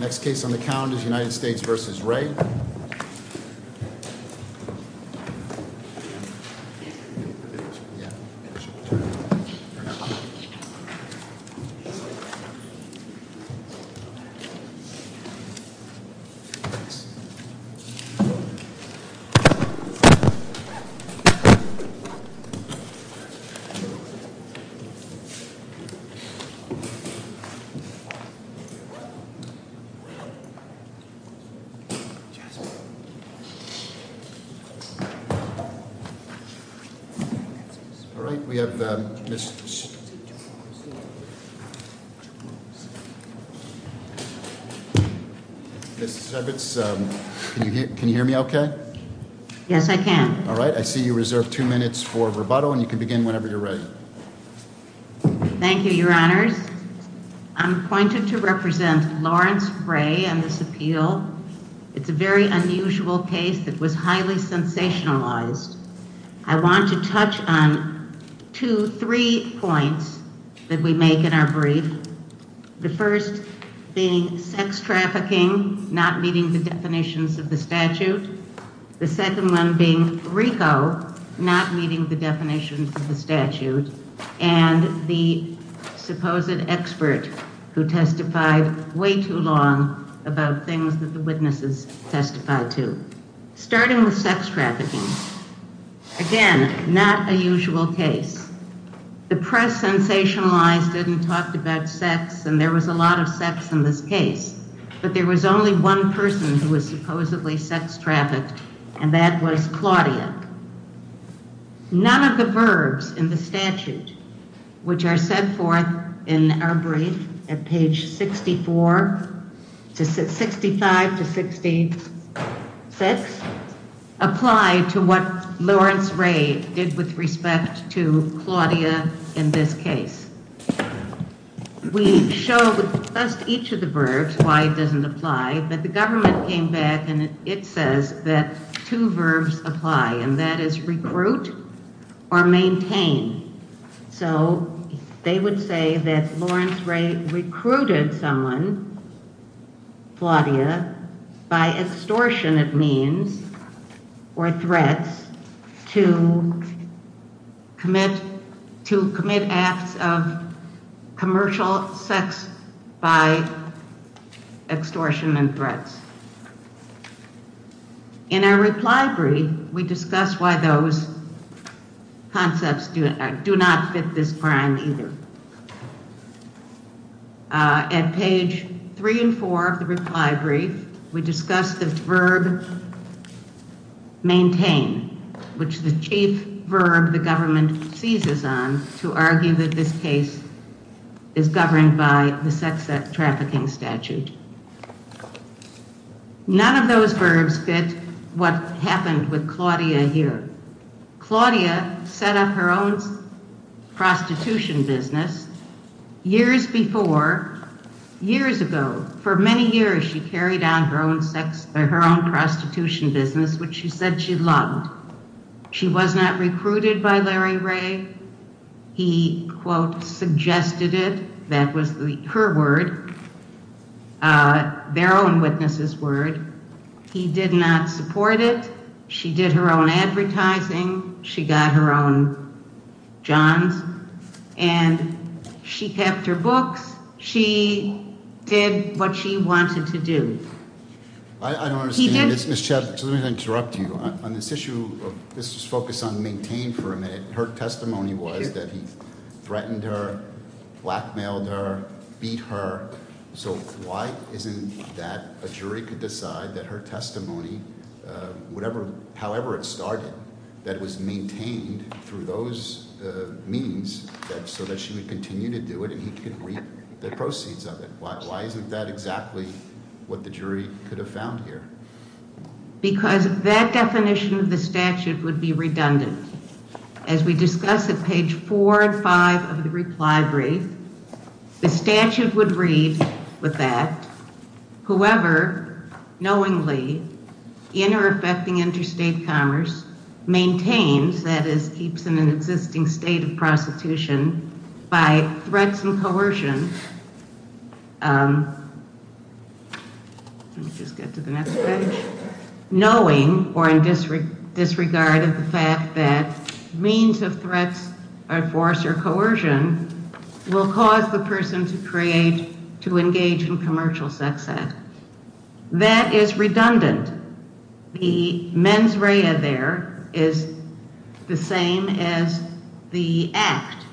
Next case on the count is United States v. Ray All right. We have Ms. Shevitz. Can you hear me okay? Yes, I can. All right. I see you reserve two minutes for rebuttal and you can begin whenever you're ready. Thank you, your It's a very unusual case that was highly sensationalized. I want to touch on two, three points that we make in our brief. The first being sex trafficking, not meeting the definitions of the statute. The second one being RICO, not meeting the definitions of the statute. And the supposed expert who testified way too long about things that the witnesses testified to. Starting with sex trafficking, again, not a usual case. The press sensationalized it and talked about sex, and there was a lot of sex in this case. But there was only one person who was supposedly sex trafficked, and that was Claudia. None of the verbs in the statute, which are set forth in our brief at page 64 to 65 to 66, apply to what Lawrence Ray did with respect to Claudia in this case. We show just each of the verbs, why it doesn't apply, but the government came back and it says that two verbs apply, and that is recruit or maintain. So they would say that Lawrence Ray recruited someone, Claudia, by extortion, it means, or threats, to commit acts of commercial sex by extortion and threats. In our reply brief, we discuss why those concepts do not fit this crime either. At page 3 and 4 of the reply brief, we discuss the verb maintain, which is the chief verb the government seizes on to argue that this case is governed by the sex trafficking statute. None of those verbs fit what happened with Claudia here. Claudia set up her own prostitution business years before, years ago. For many years, she carried out her own prostitution business, which she said she loved. She was not recruited by Larry Ray. He, quote, suggested it, that she did not support it. She did her own advertising. She got her own johns. And she kept her books. She did what she wanted to do. I don't understand this, Ms. Chapman, so let me interrupt you. On this issue, let's just focus on maintain for a minute. Her testimony was that he threatened her, blackmailed her, beat her. So why isn't that a jury could decide that her testimony, however it started, that it was maintained through those means so that she would continue to do it and he could reap the proceeds of it? Why isn't that exactly what the jury could have found here? Because that definition of the statute would be redundant. As we discuss at page four and five of the reply brief, the statute would read with that, whoever knowingly, in or affecting interstate commerce, maintains, that is, keeps in an existing state of prostitution by threats and coercion, knowing or in disregard of the fact that means of threats or force or coercion will cause the person to create, to engage in commercial sex act. That is redundant. The mens rea there is the same as the act.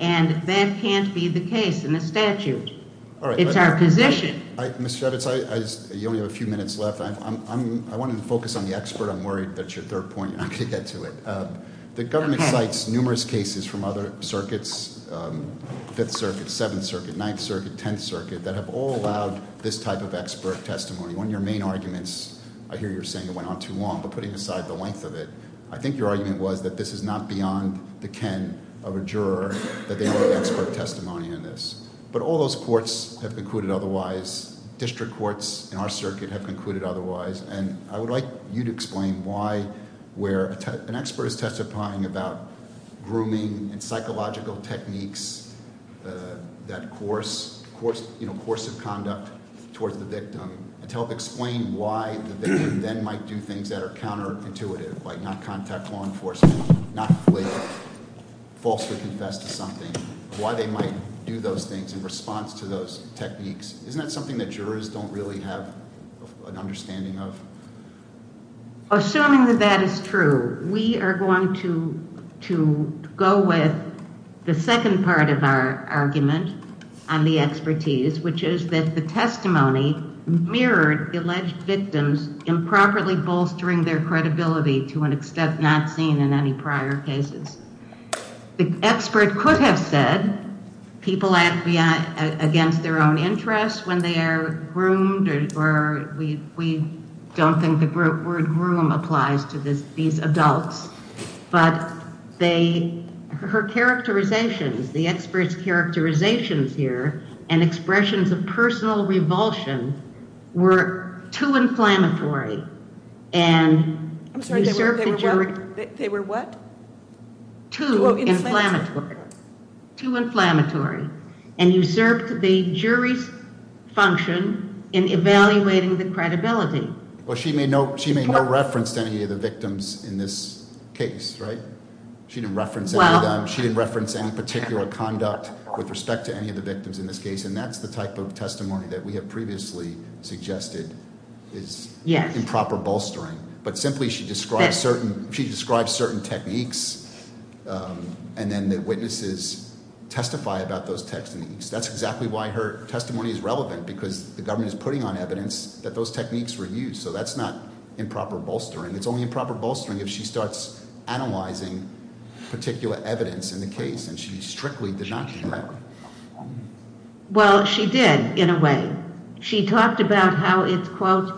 And that can't be the case in the statute. It's our position. You only have a few minutes left. I wanted to focus on the expert. I'm worried that's your third point. I'm going to get to it. The government cites numerous cases from other circuits, 5th Circuit, 7th Circuit, 9th Circuit, 10th Circuit, that have all allowed this type of expert testimony. One of your main arguments, I hear you're saying it went on too long, but putting aside the length of it, I think your argument was that this is not beyond the ken of a juror, that they don't have expert testimony in this. But all those courts have concluded otherwise. District courts in our circuit have concluded otherwise. And I would like you to explain why where an expert is testifying about grooming and psychological techniques, that course of conduct towards the victim, to help explain why the victim then might do things that are counterintuitive, like not contact law enforcement, not falsely confess to something, why they might do those things in response to those techniques. Isn't that something that jurors don't really have an understanding of? Assuming that that is true, we are going to go with the second part of our argument on the expertise, which is that the testimony mirrored alleged victims improperly bolstering their credibility to an extent not seen in any prior cases. The expert could have said people act against their own interests when they are groomed, or we don't think the word groom applies to these adults. But her characterizations, the expert's characterizations here, and expressions of personal revulsion were too inflammatory and usurped the jury's function in evaluating the credibility. Well, she made no reference to any of the victims in this case, right? She didn't reference any particular conduct with respect to any of the victims in this case, and that's the type of testimony that we have previously suggested is improper bolstering. But simply she describes certain techniques, and then the witnesses testify about those techniques. That's exactly why her testimony is relevant, because the government is putting on evidence that those techniques were used. So that's not improper bolstering. It's only improper bolstering if she starts analyzing particular evidence in the case, and she strictly did not do that. Well, she did, in a way. She talked about how it's, quote,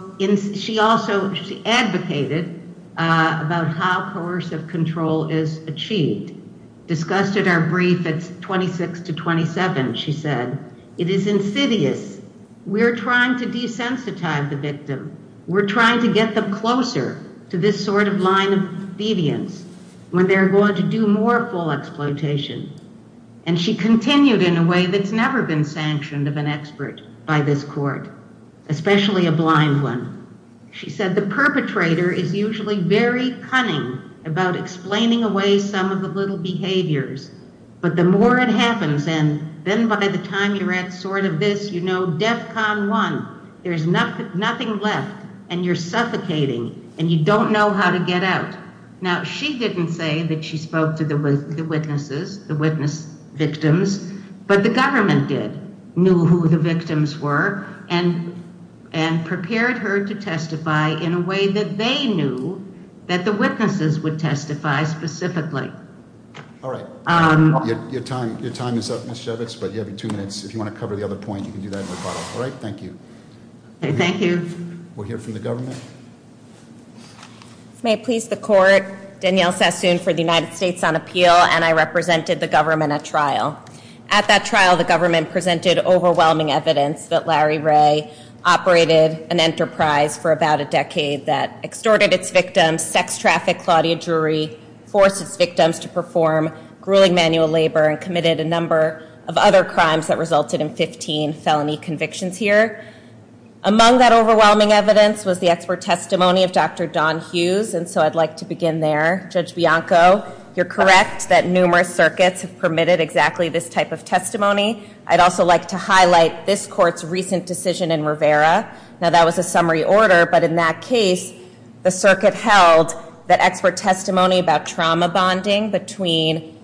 she also advocated about how coercive control is achieved. Discussed at our brief at 26 to 27, she said, it is insidious. We're trying to desensitize the victim. We're trying to get them closer to this sort of line of deviance when they're going to do more full exploitation. And she continued in a way that's never been sanctioned of an expert by this court, especially a blind one. She said the perpetrator is usually very cunning about explaining away some of the little behaviors, but the more it happens, and then by the time you're at sort of this, you know, DEFCON 1, there's nothing left, and you're suffocating, and you don't know how to get out. Now, she didn't say that she spoke to the witnesses, the witness victims, but the government did, knew who the victims were, and prepared her to testify in a way that they knew that the witnesses would testify specifically. All right. Your time is up, Ms. Shevitz, but you have two minutes. If you want to cover the other point, you can do that in the final. All right? Thank you. Thank you. We'll hear from the government. May it please the court, Danielle Sassoon for the United States on Appeal, and I represented the government at trial. At that trial, the government presented overwhelming evidence that Larry Ray operated an enterprise for about a decade that extorted its victims, sex trafficked Claudia Drury, forced its victims to perform grueling manual labor, and committed a number of other crimes that resulted in 15 felony convictions here. Among that overwhelming evidence was the expert testimony of Dr. Don Hughes, and so I'd like to begin there. Judge Bianco, you're correct that numerous circuits have permitted exactly this type of testimony. I'd also like to highlight this court's recent decision in Rivera. Now, that was a summary order, but in that case, the circuit held that expert testimony about trauma bonding between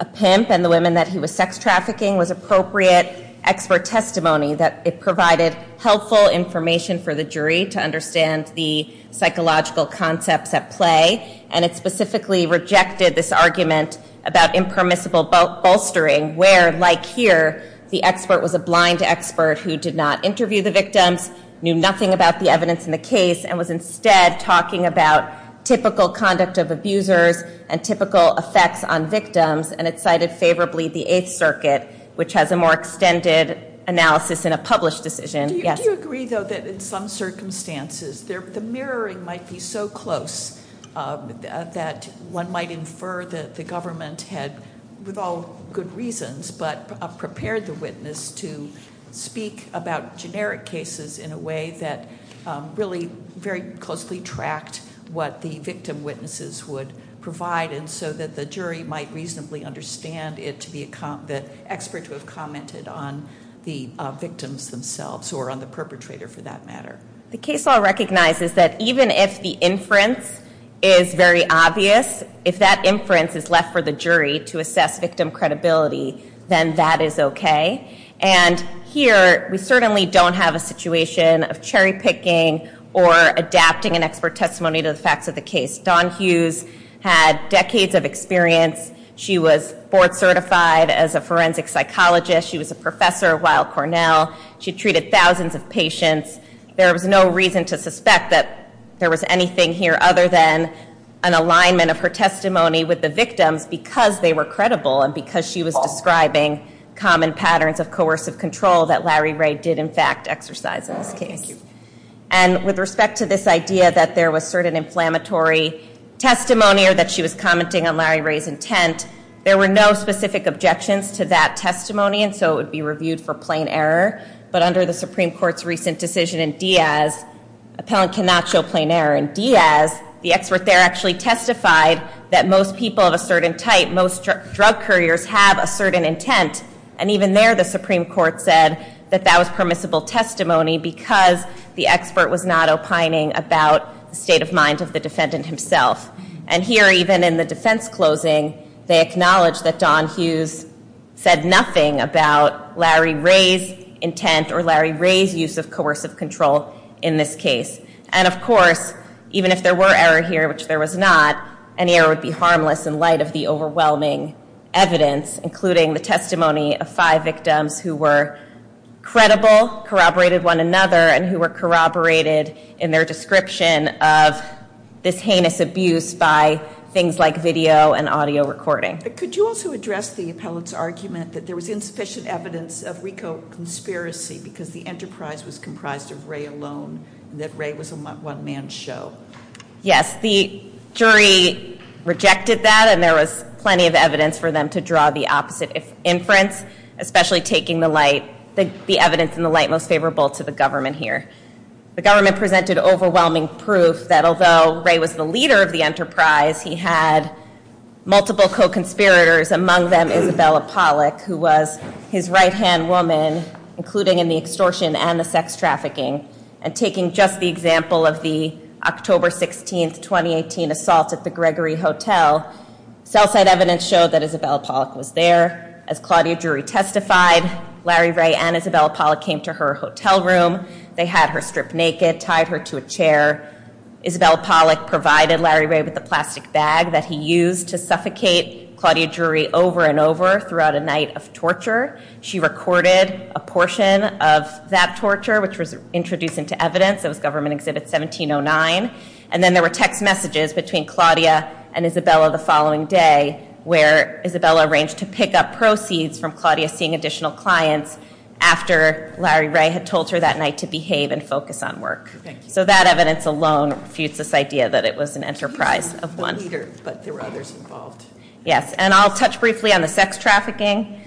a pimp and the women that he was sex trafficking was appropriate expert testimony, that it provided helpful information for the jury to understand the psychological concepts at play, and it specifically rejected this argument about impermissible bolstering where, like here, the expert was a blind expert who did not interview the victims, knew nothing about the evidence in the case, and was instead talking about typical conduct of abusers and typical effects on victims, and it cited favorably the Eighth Circuit, which has a more extended analysis in a published decision. Do you agree, though, that in some circumstances, the mirroring might be so close that one might infer that the government had, with all good reasons, but prepared the witness to speak about generic cases in a way that really very closely tracked what the victim witnesses would provide, and so that the jury might reasonably understand it to be the expert who had commented on the victims themselves, or on the perpetrator, for that matter? The case law recognizes that even if the inference is very obvious, if that inference is left for the jury to assess victim credibility, then that is okay. And here, we certainly don't have a situation of cherry picking or adapting an expert testimony to the facts of the case. Dawn Hughes had decades of experience. She was board certified as a forensic psychologist. She was a professor at Weill Cornell. She treated thousands of patients. There was no reason to suspect that there was anything here other than an alignment of her testimony with the victims because they were credible and because she was describing common patterns of coercive control that Larry Ray did, in fact, exercise in this case. And with respect to this idea that there was certain inflammatory testimony or that she was commenting on Larry Ray's intent, there were no specific objections to that testimony, and so it would be reviewed for plain error. But under the Supreme Court's recent decision in Diaz, appellant cannot show plain error. In Diaz, the expert there actually testified that most people of a certain type, most drug couriers, have a certain intent. And even there, the Supreme Court said that that was permissible testimony because the expert was not opining about the state of mind of the defendant himself. And here, even in the defense closing, they acknowledge that Don Hughes said nothing about Larry Ray's intent or Larry Ray's use of coercive control in this case. And of course, even if there were error here, which there was not, any error would be harmless in light of the overwhelming evidence, including the testimony of five victims who were credible, corroborated one another, and who were corroborated in their description of this heinous abuse by things like video and audio recording. Could you also address the appellant's argument that there was insufficient evidence of RICO conspiracy because the enterprise was comprised of Ray alone and that Ray was a one-man show? Yes, the jury rejected that, and there was plenty of evidence for them to draw the opposite inference, especially taking the evidence in the light most favorable to the government here. The government presented overwhelming proof that although Ray was the leader of the enterprise, he had multiple co-conspirators, among them Isabella Pollack, who was his right-hand woman, including in the extortion and the sex trafficking. And taking just the example of the October 16, 2018 assault at the Gregory Hotel, cell site evidence showed that Isabella Pollack was there. As Claudia Drury testified, Larry Ray and Isabella Pollack came to her hotel room. They had her stripped naked, tied her to a chair. Isabella Pollack provided Larry Ray with a plastic bag that he used to suffocate Claudia Drury over and over throughout a night of torture. She recorded a portion of that torture, which was introduced into evidence. It was Government Exhibit 1709. And then there were text messages between Claudia and Isabella the following day, where Isabella arranged to pick up proceeds from Claudia seeing additional clients after Larry Ray had told her that night to behave and focus on work. So that evidence alone refutes this idea that it was an enterprise of one. Yes, and I'll touch briefly on the sex trafficking.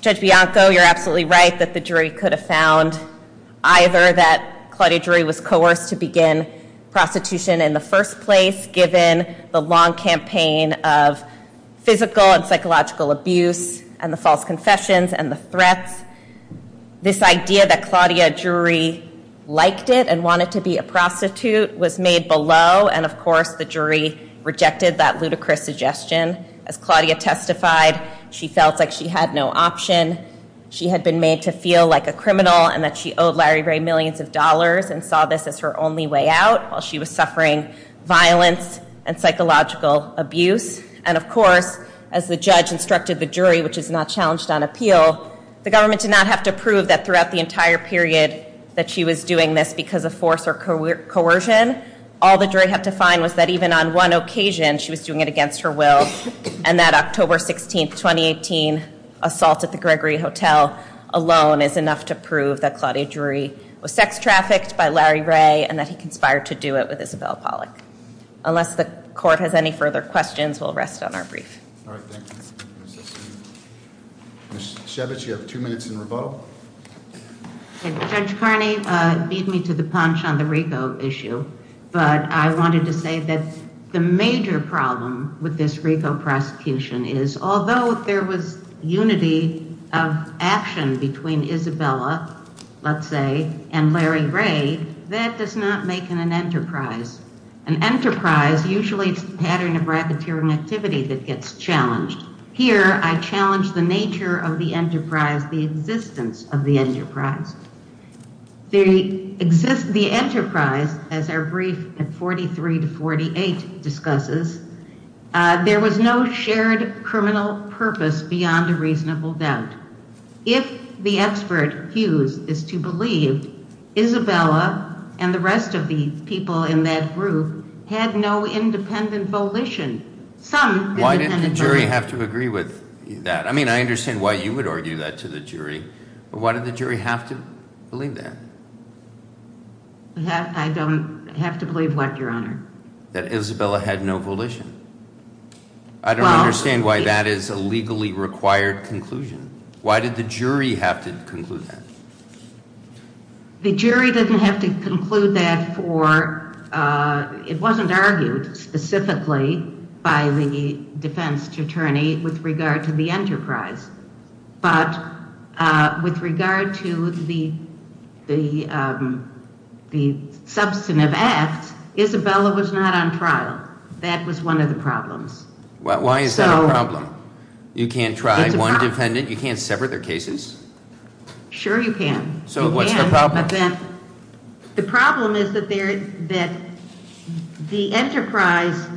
Judge Bianco, you're absolutely right that the jury could have found either that Claudia Drury was coerced to begin prostitution in the first place given the long campaign of physical and psychological abuse and the false confessions and the threats. This idea that Claudia Drury liked it and wanted to be a prostitute was made below, and of course the jury rejected that ludicrous suggestion. As Claudia testified, she felt like she had no option. She had been made to feel like a criminal and that she owed Larry Ray millions of dollars and saw this as her only way out while she was suffering violence and psychological abuse. And of course, as the judge instructed the jury, which is not challenged on appeal, the government did not have to prove that throughout the entire period that she was doing this because of force or coercion. All the jury had to find was that even on one occasion she was doing it against her will, and that October 16th, 2018 assault at the Gregory Hotel alone is enough to prove that Claudia Drury was sex trafficked by Larry Ray and that he conspired to do it with Isabel Pollack. Unless the court has any further questions, we'll rest on our brief. All right, thank you. Ms. Shevitz, you have two minutes in revote. Judge Carney beat me to the punch on the RICO issue, but I wanted to say that the major problem with this RICO prosecution is, although there was unity of action between Isabella, let's say, and Larry Ray, that does not make an enterprise. An enterprise, usually it's the pattern of racketeering activity that gets challenged. Here, I challenge the nature of the enterprise, the existence of the enterprise. The enterprise, as our brief at 43 to 48 discusses, there was no shared criminal purpose beyond a reasonable doubt. If the expert, Hughes, is to believe Isabella and the rest of the people in that group had no independent volition, some independent volition. Why did the jury have to agree with that? I mean, I understand why you would argue that to the jury. But why did the jury have to believe that? I don't have to believe what, Your Honor? That Isabella had no volition. I don't understand why that is a legally required conclusion. Why did the jury have to conclude that? The jury didn't have to conclude that for, it wasn't argued specifically by the defense attorney with regard to the enterprise. But with regard to the substantive acts, Isabella was not on trial. That was one of the problems. Why is that a problem? You can't try one defendant? You can't separate their cases? Sure you can. So what's the problem? The problem is that the enterprise,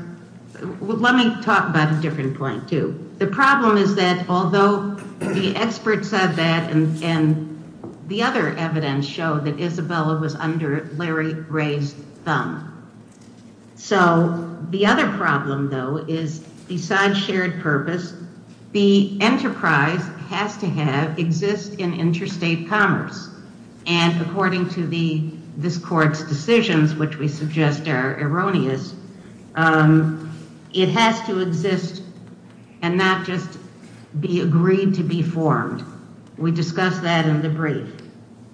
let me talk about a different point too. The problem is that although the experts said that and the other evidence showed that Isabella was under Larry Gray's thumb. So the other problem, though, is besides shared purpose, the enterprise has to exist in interstate commerce. And according to this court's decisions, which we suggest are erroneous, it has to exist and not just be agreed to be formed. We discussed that in the brief.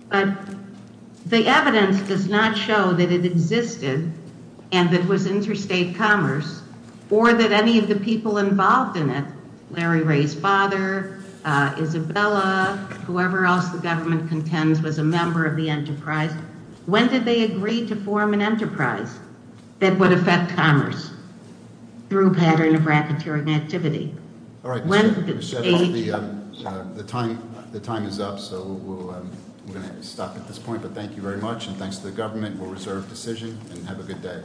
But the evidence does not show that it existed and that it was interstate commerce or that any of the people involved in it, Larry Ray's father, Isabella, whoever else the government contends was a member of the enterprise. When did they agree to form an enterprise that would affect commerce through a pattern of racketeering activity? When did they agree? The time is up, so we're going to stop at this point. But thank you very much, and thanks to the government. We'll reserve decision, and have a good day.